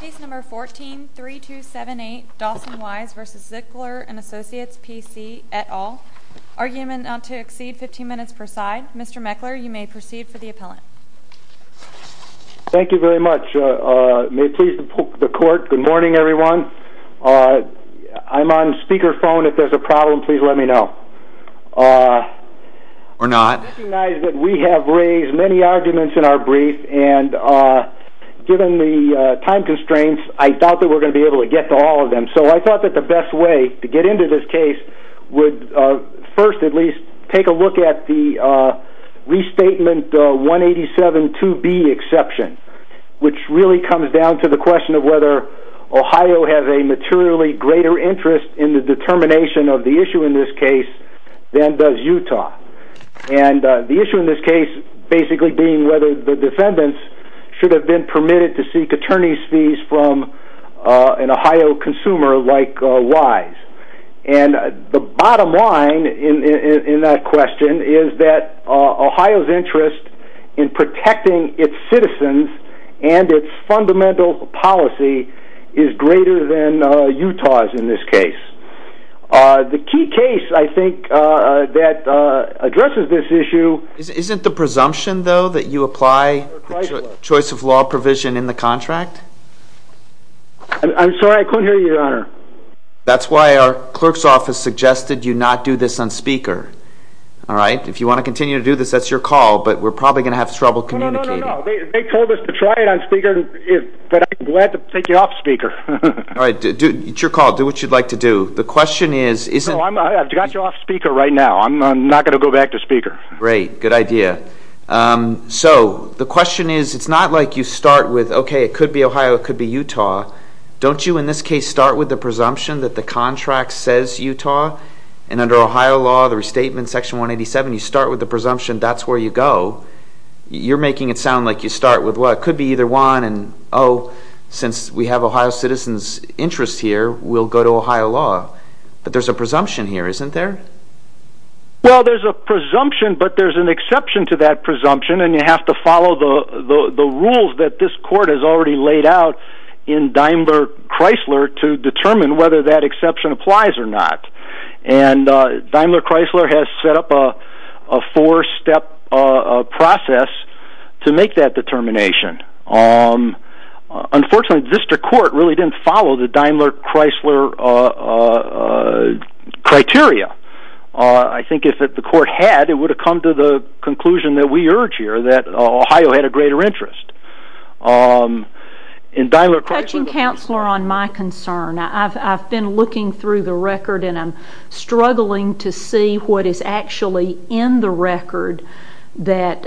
Case No. 14-3278 Dawson Wise v. Zwicker and Associates PC et al. Argument not to exceed 15 minutes per side. Mr. Meckler, you may proceed for the appellant. Thank you very much. May it please the court, good morning everyone. I'm on speakerphone, if there's a problem please let me know. Or not. I recognize that we have raised many arguments in our brief and given the time constraints I thought that we're going to be able to get to all of them. So I thought that the best way to get into this case would first at least take a look at the restatement 187-2B exception. Which really comes down to the question of whether Ohio has a materially greater interest in the determination of the issue in this case than does Utah. And the issue in this case basically being whether the defendants should have been permitted to seek attorney's fees from an Ohio consumer like Wise. And the bottom line in that question is that Ohio's interest in protecting its citizens and its fundamental policy is greater than Utah's in this case. The key case I think that addresses this issue... Isn't the presumption though that you apply choice of law provision in the contract? I'm sorry I couldn't hear you your honor. That's why our clerk's office suggested you not do this on speaker. Alright, if you want to continue to do this that's your call but we're probably going to have trouble communicating. No, no, no, they told us to try it on speaker but I'm glad to take it off speaker. Alright, it's your call, do what you'd like to do. The question is... No, I've got you off speaker right now, I'm not going to go back to speaker. Great, good idea. So, the question is it's not like you start with okay it could be Ohio, it could be Utah. Don't you in this case start with the presumption that the contract says Utah? And under Ohio law the restatement section 187 you start with the presumption that's where you go. You're making it sound like you start with well it could be either one and oh since we have Ohio citizens interest here we'll go to Ohio law. But there's a presumption here isn't there? Well there's a presumption but there's an exception to that presumption and you have to follow the rules that this court has already laid out in Daimler Chrysler to determine whether that exception applies or not. And Daimler Chrysler has set up a four step process to make that determination. Unfortunately district court really didn't follow the Daimler Chrysler criteria. I think if the court had it would have come to the conclusion that we urge here that Ohio had a greater interest. Touching counselor on my concern I've been looking through the record and I'm struggling to see what is actually in the record that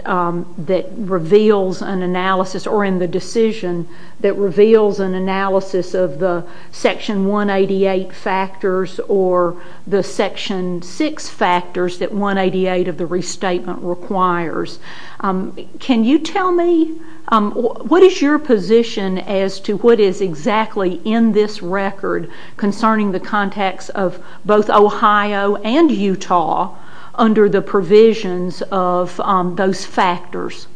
reveals an analysis or in the decision that reveals an analysis of the section 188 factors or the section 6 factors that 188 of the restatement requires. Can you tell me what is your position as to what is exactly in this record concerning the context of both Ohio and Utah under the provisions of those factors?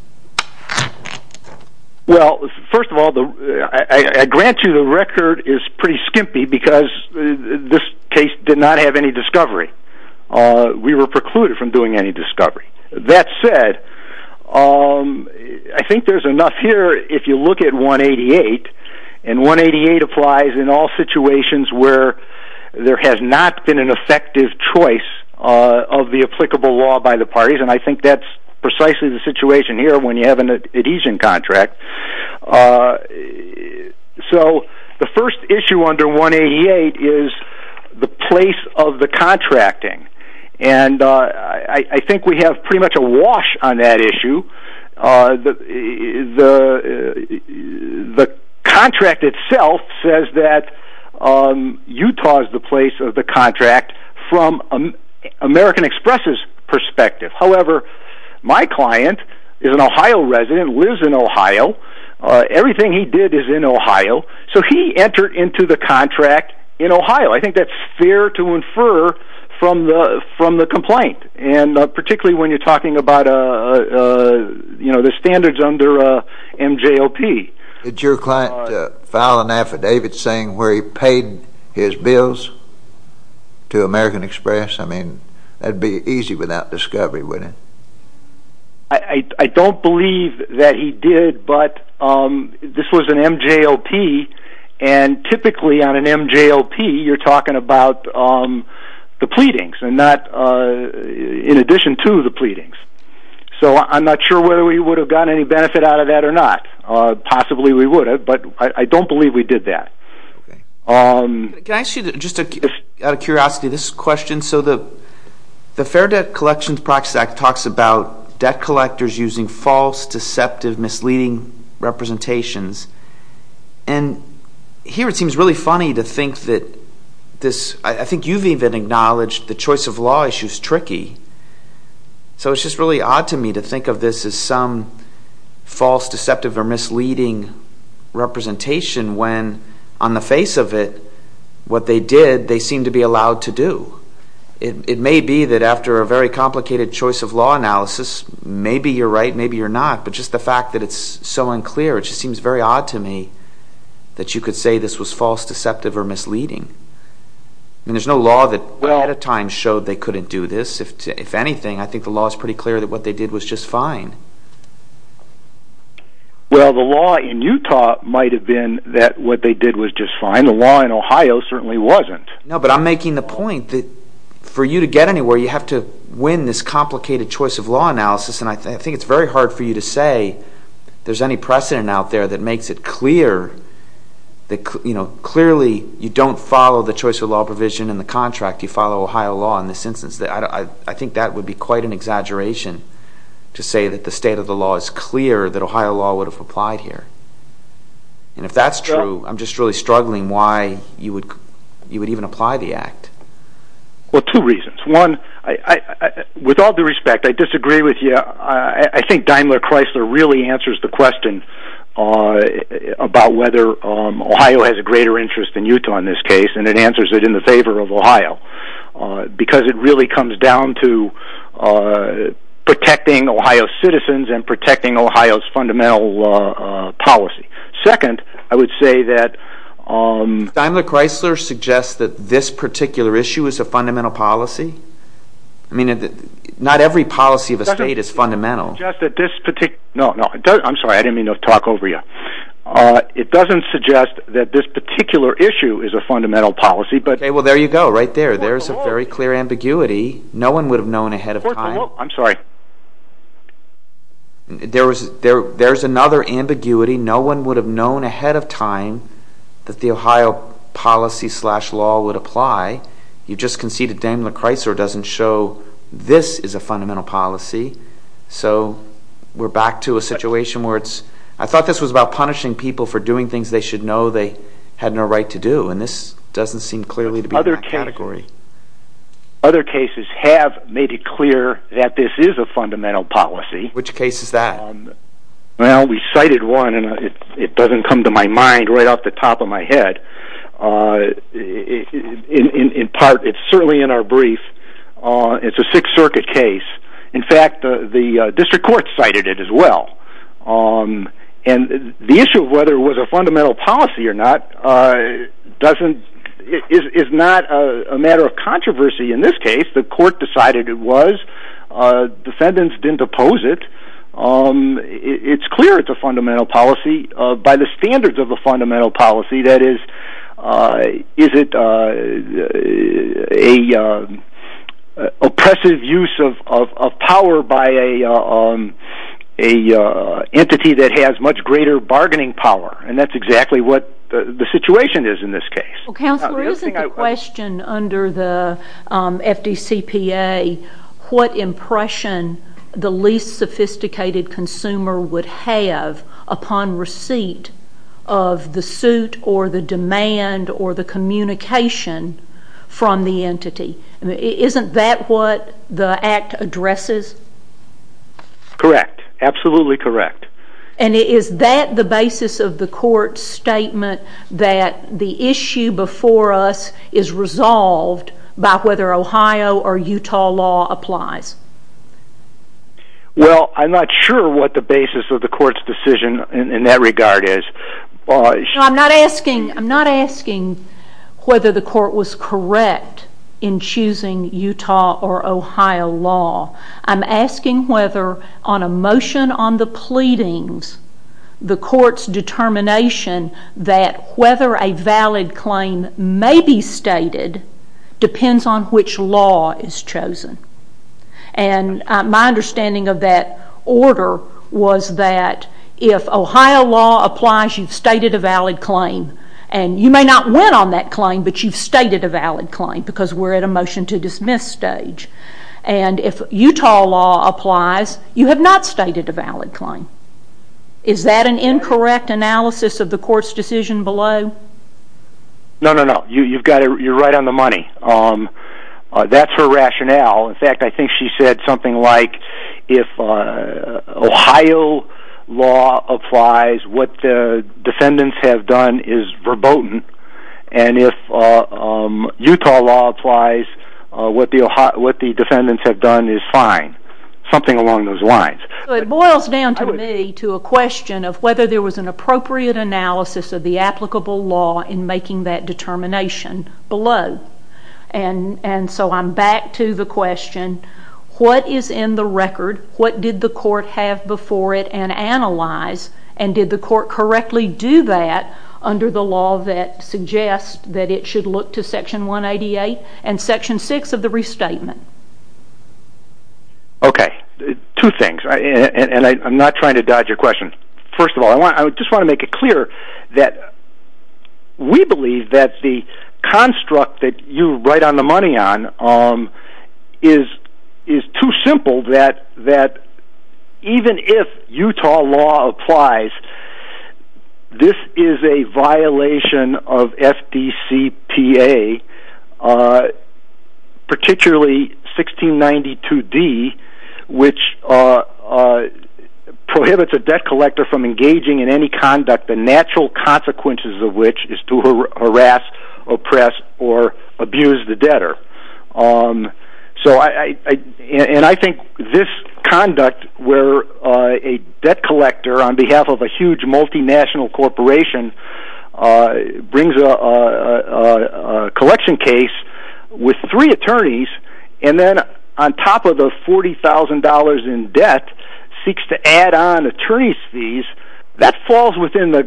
Well first of all I grant you the record is pretty skimpy because this case did not have any discovery. We were precluded from doing any discovery. That said I think there's enough here if you look at 188 and 188 applies in all situations where there has not been an effective choice of the applicable law by the parties and I think that's precisely the situation here when you have an adhesion contract. So the first issue under 188 is the place of the contracting and I think we have pretty much a wash on that issue. The contract itself says that Utah is the place of the contract from American Express's perspective. However my client is an Ohio resident, lives in Ohio. Everything he did is in Ohio. So he entered into the contract in Ohio. I think that's fair to infer from the complaint and particularly when you're talking about the standards under MJOP. Did your client file an affidavit saying where he paid his bills to American Express? I mean that'd be easy without discovery, wouldn't it? I don't believe that he did but this was an MJOP and typically on an MJOP you're talking about the pleadings and not in addition to the pleadings. So I'm not sure whether we would have gotten any benefit out of that or not. Possibly we would have but I don't believe we did that. Can I ask you just out of curiosity this question? So the Fair Debt Collections Practice Act talks about debt collectors using false, deceptive, misleading representations. And here it seems really funny to think that this, I think you've even acknowledged the choice of law issue is tricky. So it's just really odd to me to think of this as some false, deceptive or misleading representation when on the face of it what they did, they seem to be allowed to do. It may be that after a very complicated choice of law analysis, maybe you're right, maybe you're not. But just the fact that it's so unclear, it just seems very odd to me that you could say this was false, deceptive or misleading. I mean there's no law that at a time showed they couldn't do this. If anything, I think the law is pretty clear that what they did was just fine. Well, the law in Utah might have been that what they did was just fine. The law in Ohio certainly wasn't. No, but I'm making the point that for you to get anywhere, you have to win this complicated choice of law analysis. And I think it's very hard for you to say there's any precedent out there that makes it clear that, you know, clearly you don't follow the choice of law provision in the contract. You follow Ohio law in this instance. I think that would be quite an exaggeration to say that the state of the law is clear that Ohio law would have applied here. And if that's true, I'm just really struggling why you would even apply the act. Well, two reasons. One, with all due respect, I disagree with you. I think Daimler-Chrysler really answers the question about whether Ohio has a greater interest than Utah in this case, and it answers it in the favor of Ohio. Because it really comes down to protecting Ohio citizens and protecting Ohio's fundamental policy. Second, I would say that... Daimler-Chrysler suggests that this particular issue is a fundamental policy? I mean, not every policy of a state is fundamental. No, no, I'm sorry. I didn't mean to talk over you. It doesn't suggest that this particular issue is a fundamental policy, but... Okay, well, there you go, right there. There's a very clear ambiguity. No one would have known ahead of time. I'm sorry. There's another ambiguity. No one would have known ahead of time that the Ohio policy-slash-law would apply. You just conceded Daimler-Chrysler doesn't show this is a fundamental policy. So we're back to a situation where it's... I thought this was about punishing people for doing things they should know they had no right to do, and this doesn't seem clearly to be in that category. Other cases have made it clear that this is a fundamental policy. Which case is that? Well, we cited one, and it doesn't come to my mind right off the top of my head. In part, it's certainly in our brief. It's a Sixth Circuit case. In fact, the district court cited it as well. And the issue of whether it was a fundamental policy or not doesn't... is not a matter of controversy in this case. The court decided it was. Defendants didn't oppose it. It's clear it's a fundamental policy by the standards of a fundamental policy. That is, is it an oppressive use of power by an entity that has much greater bargaining power? And that's exactly what the situation is in this case. Well, Counselor, isn't the question under the FDCPA, what impression the least sophisticated consumer would have upon receipt of the suit or the demand or the communication from the entity? Isn't that what the Act addresses? Correct. Absolutely correct. And is that the basis of the court's statement that the issue before us is resolved by whether Ohio or Utah law applies? Well, I'm not sure what the basis of the court's decision in that regard is. I'm not asking whether the court was correct in choosing Utah or Ohio law. I'm asking whether on a motion on the pleadings, the court's determination that whether a valid claim may be stated depends on which law is chosen. And my understanding of that order was that if Ohio law applies, you've stated a valid claim, and you may not win on that claim, but you've stated a valid claim because we're at a motion to dismiss stage. And if Utah law applies, you have not stated a valid claim. Is that an incorrect analysis of the court's decision below? No, no, no. You're right on the money. That's her rationale. In fact, I think she said something like if Ohio law applies, what the defendants have done is verboten, and if Utah law applies, what the defendants have done is fine. Something along those lines. It boils down to me to a question of whether there was an appropriate analysis of the applicable law in making that determination below. And so I'm back to the question, what is in the record? What did the court have before it and analyze? And did the court correctly do that under the law that suggests that it should look to Section 188 and Section 6 of the restatement? Okay. Two things, and I'm not trying to dodge your question. First of all, I just want to make it clear that we believe that the construct that you're right on the money on is too simple that even if Utah law applies, this is a violation of FDCPA, particularly 1692D, which prohibits a debt collector from engaging in any conduct, the natural consequences of which is to harass, oppress, or abuse the debtor. And I think this conduct where a debt collector on behalf of a huge multinational corporation brings a collection case with three attorneys, and then on top of the $40,000 in debt seeks to add on attorney's fees, that falls within the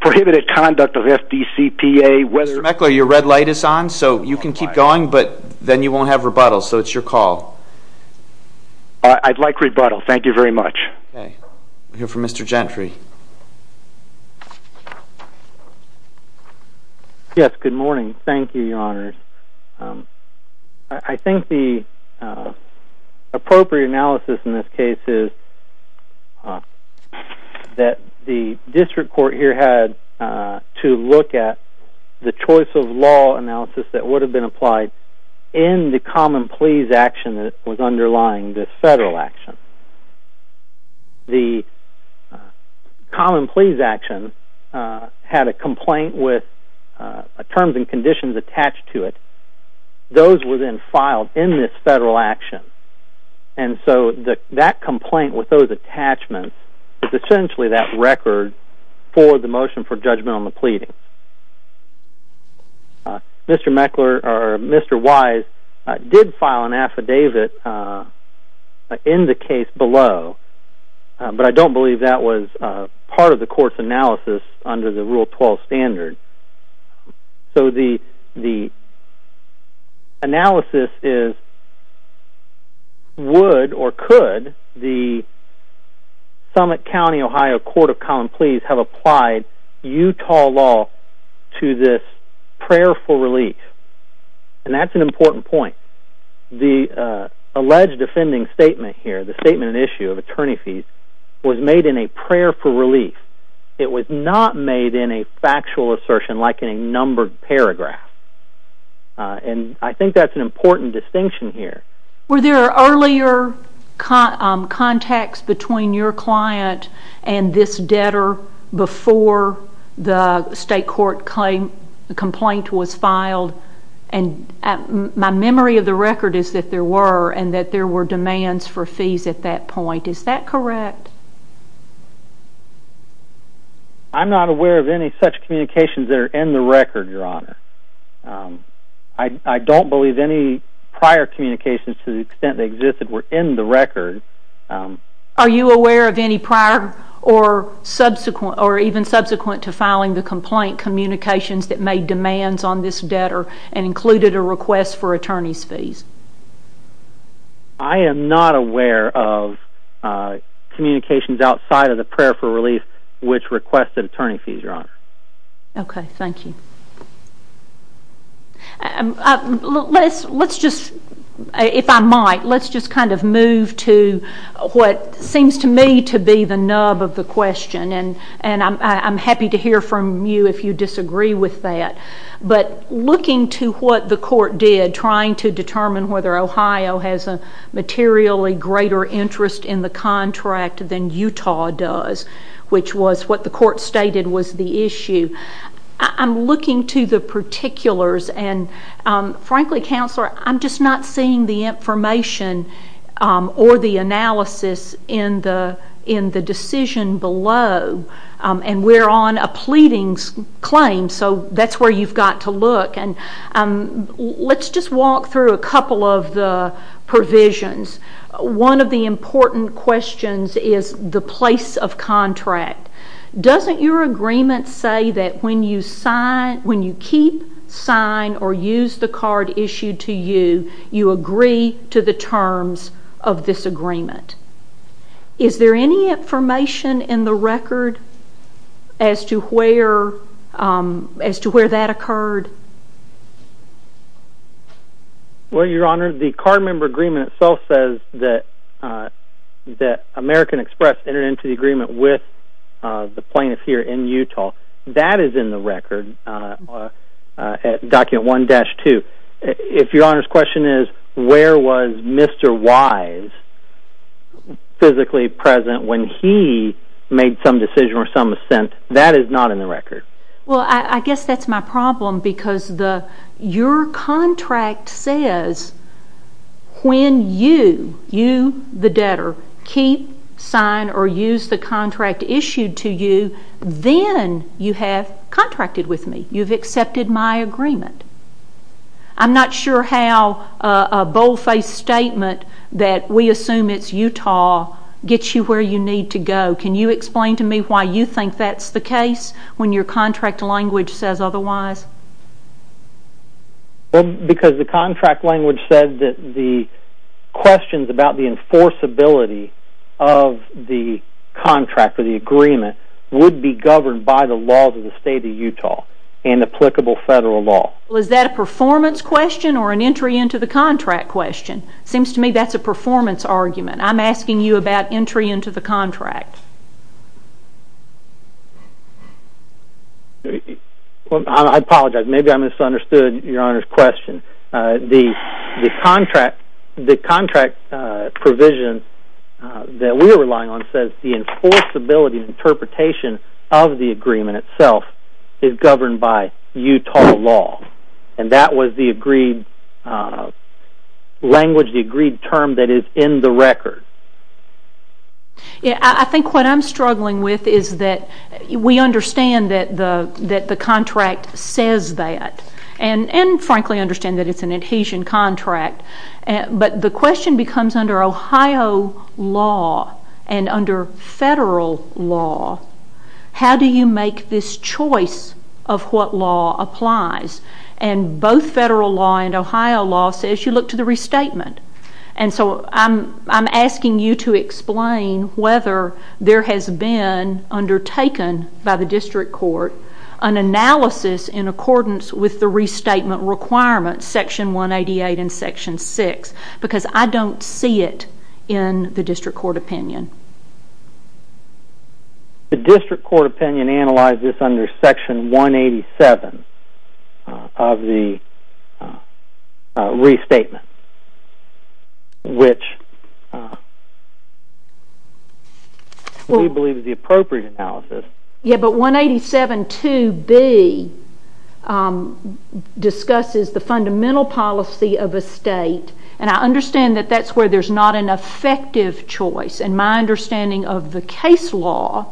prohibited conduct of FDCPA. Mr. Meckler, your red light is on, so you can keep going, but then you won't have rebuttal. So it's your call. I'd like rebuttal. Thank you very much. Okay. We'll hear from Mr. Gentry. Yes, good morning. Thank you, Your Honors. I think the appropriate analysis in this case is that the district court here had to look at the choice of law analysis that would have been applied in the common pleas action that was underlying this federal action. The common pleas action had a complaint with terms and conditions attached to it. Those were then filed in this federal action. And so that complaint with those attachments is essentially that record for the motion for judgment on the pleadings. Mr. Weiss did file an affidavit in the case below, but I don't believe that was part of the court's analysis under the Rule 12 standard. So the analysis is would or could the Summit County, Ohio Court of Common Pleas have applied Utah law to this prayer for relief? And that's an important point. The alleged offending statement here, the statement and issue of attorney fees, was made in a prayer for relief. It was not made in a factual assertion like in a numbered paragraph. And I think that's an important distinction here. Were there earlier contacts between your client and this debtor before the state court complaint was filed? And my memory of the record is that there were, and that there were demands for fees at that point. Is that correct? I'm not aware of any such communications that are in the record, Your Honor. I don't believe any prior communications to the extent they existed were in the record. Are you aware of any prior or even subsequent to filing the complaint communications that made demands on this debtor and included a request for attorney's fees? I am not aware of communications outside of the prayer for relief which requested attorney fees, Your Honor. Okay, thank you. Let's just, if I might, let's just kind of move to what seems to me to be the nub of the question. And I'm happy to hear from you if you disagree with that. But looking to what the court did trying to determine whether Ohio has a materially greater interest in the contract than Utah does, which was what the court stated was the issue, I'm looking to the particulars and, frankly, Counselor, I'm just not seeing the information or the analysis in the decision below. And we're on a pleadings claim, so that's where you've got to look. And let's just walk through a couple of the provisions. One of the important questions is the place of contract. Doesn't your agreement say that when you keep, sign, or use the card issued to you, you agree to the terms of this agreement? Is there any information in the record as to where that occurred? Well, Your Honor, the card member agreement itself says that American Express entered into the agreement with the plaintiff here in Utah. That is in the record at document 1-2. If Your Honor's question is where was Mr. Wise physically present when he made some decision or some assent, that is not in the record. Well, I guess that's my problem because your contract says when you, you the debtor, keep, sign, or use the contract issued to you, then you have contracted with me. You've accepted my agreement. I'm not sure how a bold-faced statement that we assume it's Utah gets you where you need to go. Can you explain to me why you think that's the case when your contract language says otherwise? Well, because the contract language said that the questions about the enforceability of the contract or the agreement would be governed by the laws of the state of Utah and applicable federal law. Well, is that a performance question or an entry into the contract question? It seems to me that's a performance argument. I'm asking you about entry into the contract. I apologize. Maybe I misunderstood Your Honor's question. The contract provision that we're relying on says the enforceability and interpretation of the agreement itself is governed by Utah law, and that was the agreed language, the agreed term that is in the record. I think what I'm struggling with is that we understand that the contract says that and, frankly, understand that it's an adhesion contract, but the question becomes under Ohio law and under federal law, how do you make this choice of what law applies? Both federal law and Ohio law says you look to the restatement, and so I'm asking you to explain whether there has been undertaken by the district court an analysis in accordance with the restatement requirements, Section 188 and Section 6, because I don't see it in the district court opinion. The district court opinion analyzes under Section 187 of the restatement, which we believe is the appropriate analysis. Yeah, but 187 2B discusses the fundamental policy of a state, and I understand that that's where there's not an effective choice, and my understanding of the case law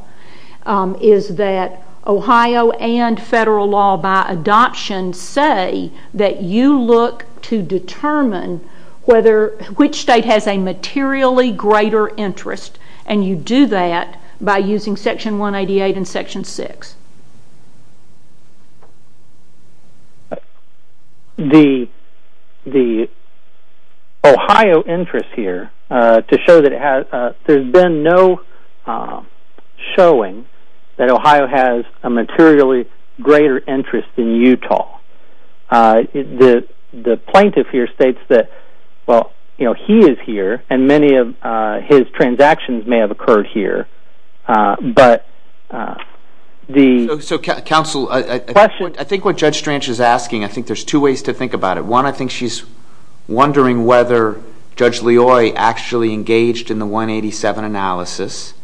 is that Ohio and federal law by adoption say that you look to determine which state has a materially greater interest, and you do that by using Section 188 and Section 6. The Ohio interest here, to show that there's been no showing that Ohio has a materially greater interest in Utah. The plaintiff here states that, well, he is here, and many of his transactions may have occurred here, but the question... So, counsel, I think what Judge Strange is asking, I think there's two ways to think about it. One, I think she's wondering whether Judge Leoy actually engaged in the 187 analysis,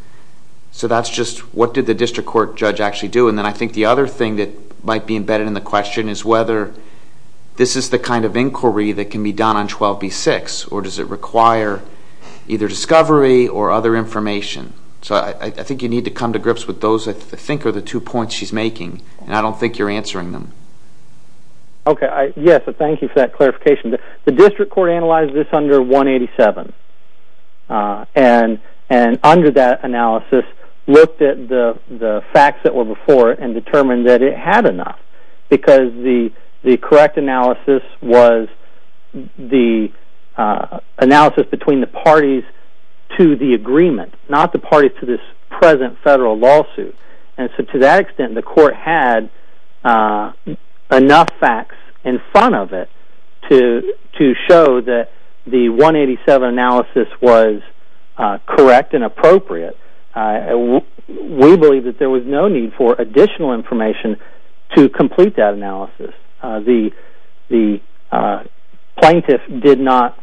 so that's just what did the district court judge actually do, and then I think the other thing that might be embedded in the question is whether this is the kind of inquiry that can be done on 12B-6, or does it require either discovery or other information? So I think you need to come to grips with those, I think, are the two points she's making, and I don't think you're answering them. Okay, yes, so thank you for that clarification. The district court analyzed this under 187, and under that analysis looked at the facts that were before it and determined that it had enough because the correct analysis was the analysis between the parties to the agreement, not the parties to this present federal lawsuit. And so to that extent, the court had enough facts in front of it to show that the 187 analysis was correct and appropriate. We believe that there was no need for additional information to complete that analysis. The plaintiff did not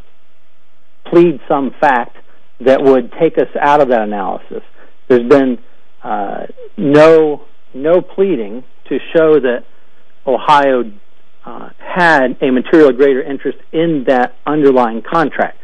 plead some fact that would take us out of that analysis. There's been no pleading to show that Ohio had a material greater interest in that underlying contract.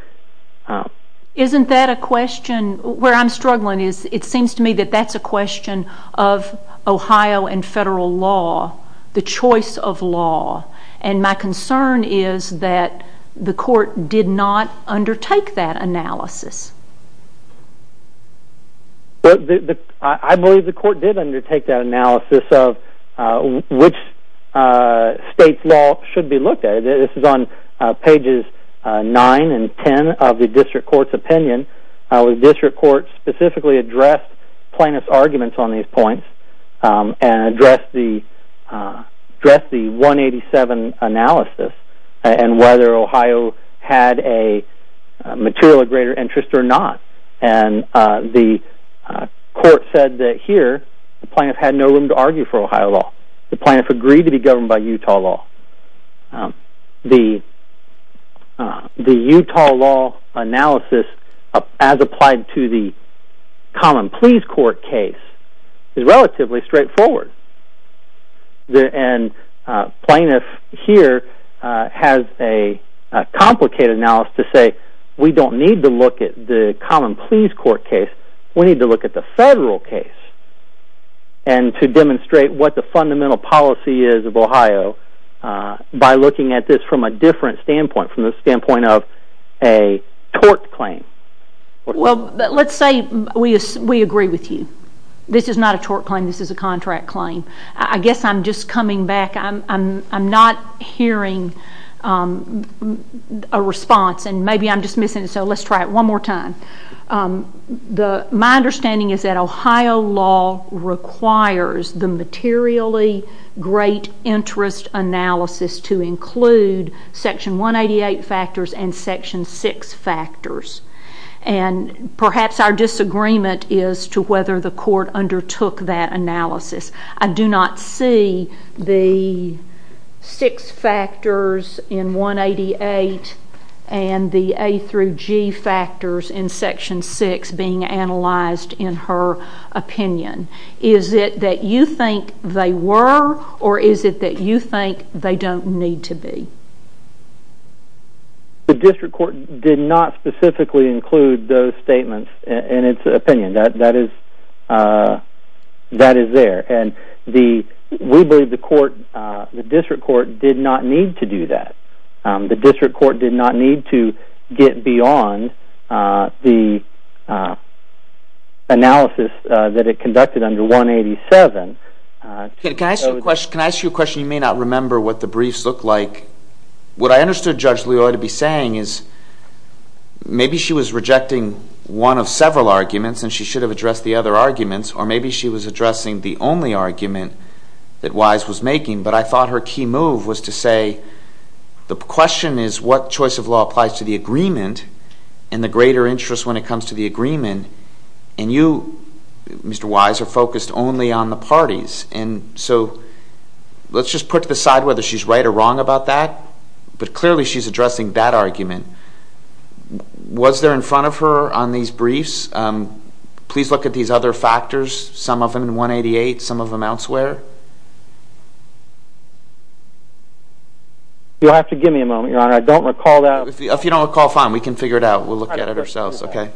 Isn't that a question, where I'm struggling, it seems to me that that's a question of Ohio and federal law, the choice of law, and my concern is that the court did not undertake that analysis. I believe the court did undertake that analysis of which state's law should be looked at. This is on pages 9 and 10 of the district court's opinion. The district court specifically addressed plaintiff's arguments on these points and addressed the 187 analysis and whether Ohio had a material of greater interest or not. And the court said that here, the plaintiff had no room to argue for Ohio law. The plaintiff agreed to be governed by Utah law. The Utah law analysis, as applied to the common pleas court case, is relatively straightforward. And plaintiff here has a complicated analysis to say, we don't need to look at the common pleas court case, we need to look at the federal case and to demonstrate what the fundamental policy is of Ohio by looking at this from a different standpoint, from the standpoint of a tort claim. Well, let's say we agree with you. This is not a tort claim, this is a contract claim. I guess I'm just coming back, I'm not hearing a response, and maybe I'm just missing it, so let's try it one more time. My understanding is that Ohio law requires the materially great interest analysis to include section 188 factors and section 6 factors. And perhaps our disagreement is to whether the court undertook that analysis. I do not see the 6 factors in 188 and the A through G factors in section 6 being analyzed in her opinion. Is it that you think they were, or is it that you think they don't need to be? The district court did not specifically include those statements in its opinion. That is there. And we believe the district court did not need to do that. The district court did not need to get beyond the analysis that it conducted under 187. Can I ask you a question? You may not remember what the briefs looked like. What I understood Judge Loy to be saying is maybe she was rejecting one of several arguments and she should have addressed the other arguments, or maybe she was addressing the only argument that Wise was making, but I thought her key move was to say the question is what choice of law applies to the agreement and the greater interest when it comes to the agreement, and you, Mr. Wise, are focused only on the parties. And so let's just put to the side whether she's right or wrong about that, but clearly she's addressing that argument. Was there in front of her on these briefs, please look at these other factors, some of them 188, some of them elsewhere? You'll have to give me a moment, Your Honor. I don't recall that. If you don't recall, fine, we can figure it out. We'll look at it ourselves. Okay.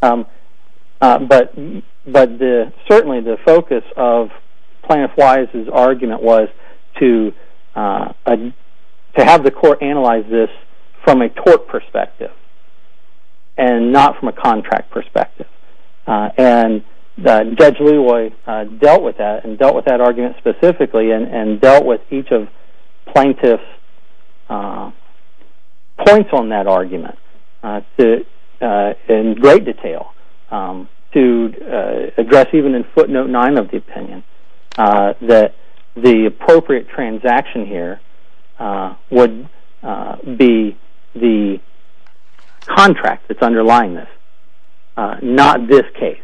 But certainly the focus of Plaintiff Wise's argument was to have the court analyze this from a tort perspective and not from a contract perspective. And Judge Lewoy dealt with that and dealt with that argument specifically and dealt with each of plaintiff's points on that argument in great detail to address even in footnote 9 of the opinion that the appropriate transaction here would be the contract that's underlying this, not this case.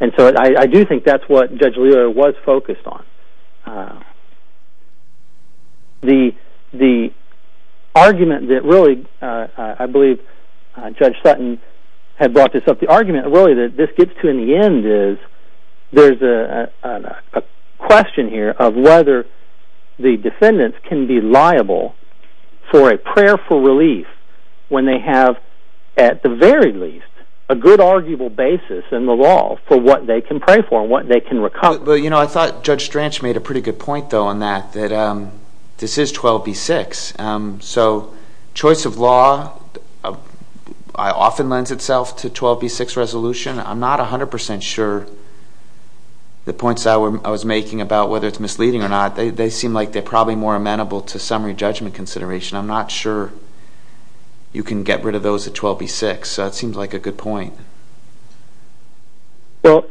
And so I do think that's what Judge Lewoy was focused on. The argument that really I believe Judge Sutton had brought this up, the argument really that this gets to in the end is there's a question here of whether the defendants can be liable for a prayer for relief when they have at the very least a good arguable basis in the law for what they can pray for and what they can recover. Well, you know, I thought Judge Stranch made a pretty good point, though, on that, that this is 12b-6. So choice of law often lends itself to 12b-6 resolution. I'm not 100% sure the points I was making about whether it's misleading or not. They seem like they're probably more amenable to summary judgment consideration. I'm not sure you can get rid of those at 12b-6. So that seems like a good point. Well,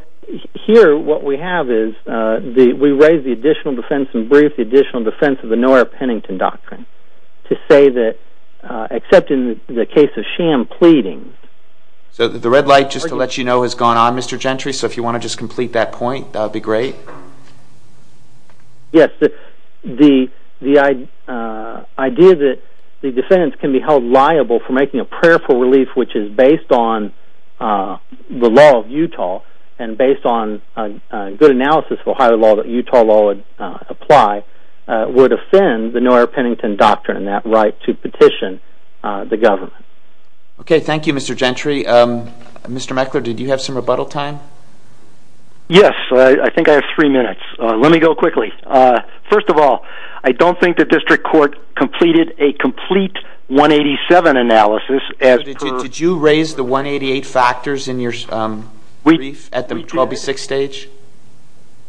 here what we have is we raise the additional defense in brief, the additional defense of the Noah Pennington Doctrine to say that, except in the case of sham pleadings... So the red light, just to let you know, has gone on, Mr. Gentry. So if you want to just complete that point, that would be great. Yes, the idea that the defendants can be held liable for making a prayer for relief, which is based on the law of Utah and based on good analysis of Ohio law that Utah law would apply, would offend the Noah Pennington Doctrine and that right to petition the government. Okay, thank you, Mr. Gentry. Mr. Meckler, did you have some rebuttal time? Yes, I think I have three minutes. Let me go quickly. First of all, I don't think the district court completed a complete 187 analysis as per... Did you raise the 188 factors in your brief at the 12b-6 stage?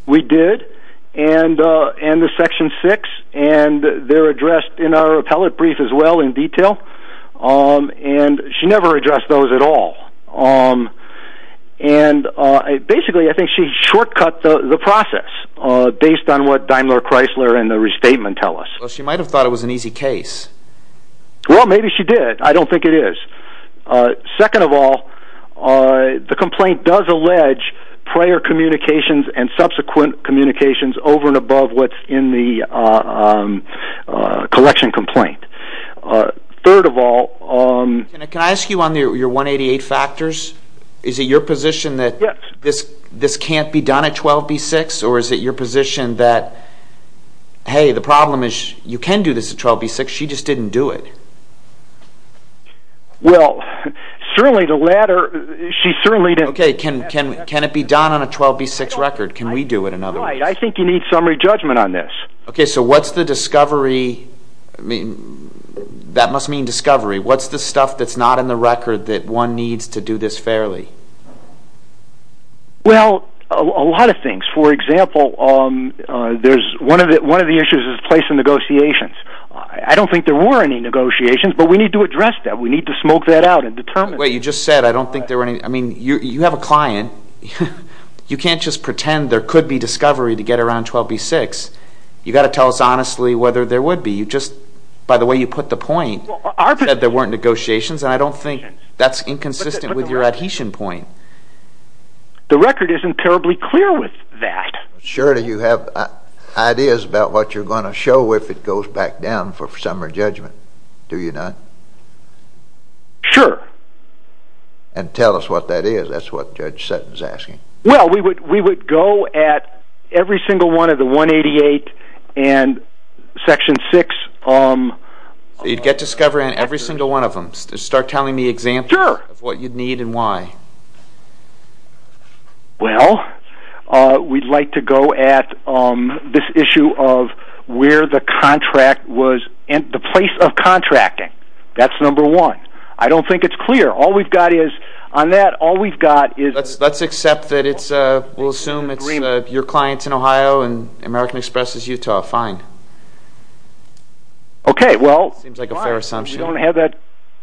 We did, and the section 6, and they're addressed in our appellate brief as well in detail. And she never addressed those at all. And basically, I think she shortcut the process based on what Daimler-Chrysler and the restatement tell us. She might have thought it was an easy case. Well, maybe she did. I don't think it is. Second of all, the complaint does allege prior communications and subsequent communications over and above what's in the collection complaint. Third of all... Can I ask you on your 188 factors? Is it your position that this can't be done at 12b-6? Or is it your position that, hey, the problem is you can do this at 12b-6. She just didn't do it. Well, certainly the latter... Okay, can it be done on a 12b-6 record? Can we do it in other ways? Right, I think you need summary judgment on this. Okay, so what's the discovery... I mean, that must mean discovery. What's the stuff that's not in the record that one needs to do this fairly? Well, a lot of things. For example, one of the issues is place in negotiations. I don't think there were any negotiations, but we need to address that. We need to smoke that out and determine... Wait, you just said, I don't think there were any... I mean, you have a client. You can't just pretend there could be discovery to get around 12b-6. You've got to tell us honestly whether there would be. You just, by the way you put the point, said there weren't negotiations, and I don't think that's inconsistent with your adhesion point. The record isn't terribly clear with that. Surely you have ideas about what you're going to show if it goes back down for summary judgment, do you not? Sure. And tell us what that is. That's what Judge Sutton's asking. Well, we would go at every single one of the 188 and Section 6... You'd get discovery on every single one of them. Start telling me examples of what you'd need and why. Well, we'd like to go at this issue of where the contract was... the place of contracting. That's number one. I don't think it's clear. All we've got is... on that, all we've got is... Let's accept that it's... we'll assume it's your clients in Ohio and American Express is Utah. Fine. Okay, well... It seems like a fair assumption. We don't have that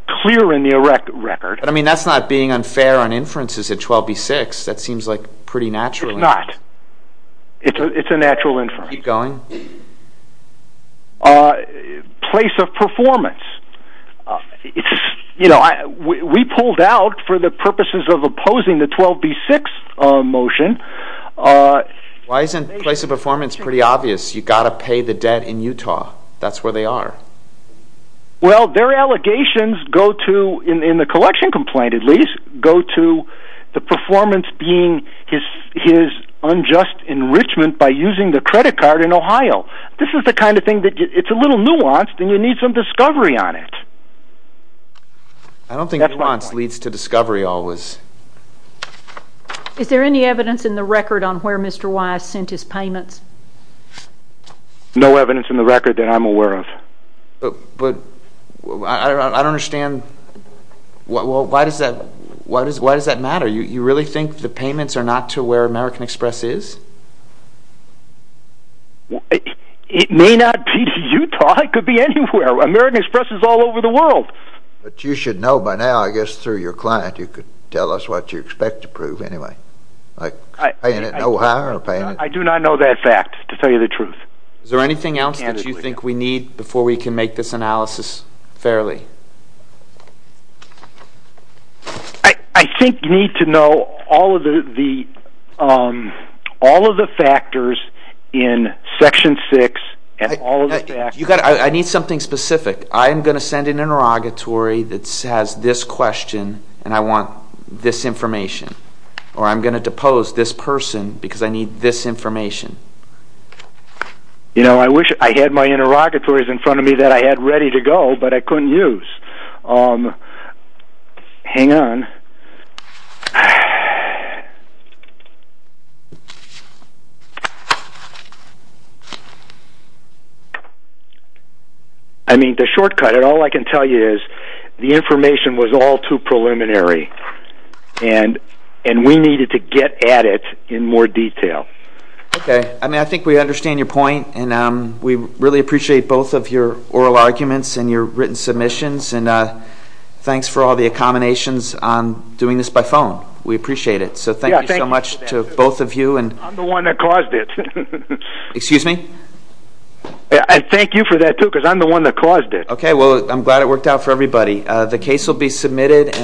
clear in the record. But, I mean, that's not being unfair on inferences at 12b-6. That seems like pretty natural inference. It's not. It's a natural inference. Keep going. Place of performance. It's... you know, we pulled out for the purposes of opposing the 12b-6 motion. Why isn't place of performance pretty obvious? You've got to pay the debt in Utah. That's where they are. Well, their allegations go to, in the collection complaint at least, go to the performance being his unjust enrichment by using the credit card in Ohio. This is the kind of thing that... it's a little nuanced and you need some discovery on it. I don't think nuance leads to discovery always. Is there any evidence in the record on where Mr. Wise sent his payments? No evidence in the record that I'm aware of. But... I don't understand... Why does that matter? You really think the payments are not to where American Express is? It may not be Utah. It could be anywhere. American Express is all over the world. But you should know by now, I guess through your client, you could tell us what you expect to prove anyway. Like paying it in Ohio or paying it... I do not know that fact, to tell you the truth. Is there anything else that you think we need before we can make this analysis fairly? I think you need to know all of the factors in Section 6 and all of the factors... I need something specific. I'm going to send an interrogatory that has this question and I want this information. Or I'm going to depose this person because I need this information. You know, I wish I had my interrogatories in front of me that I had ready to go but I couldn't use. Hang on. I mean, the shortcut, all I can tell you is the information was all too preliminary. And we needed to get at it in more detail. Okay. I think we understand your point. And we really appreciate both of your oral arguments and your written submissions. And thanks for all the accommodations on doing this by phone. We appreciate it. So thank you so much to both of you. I'm the one that caused it. Excuse me? I thank you for that too because I'm the one that caused it. Okay. Well, I'm glad it worked out for everybody. The case will be submitted.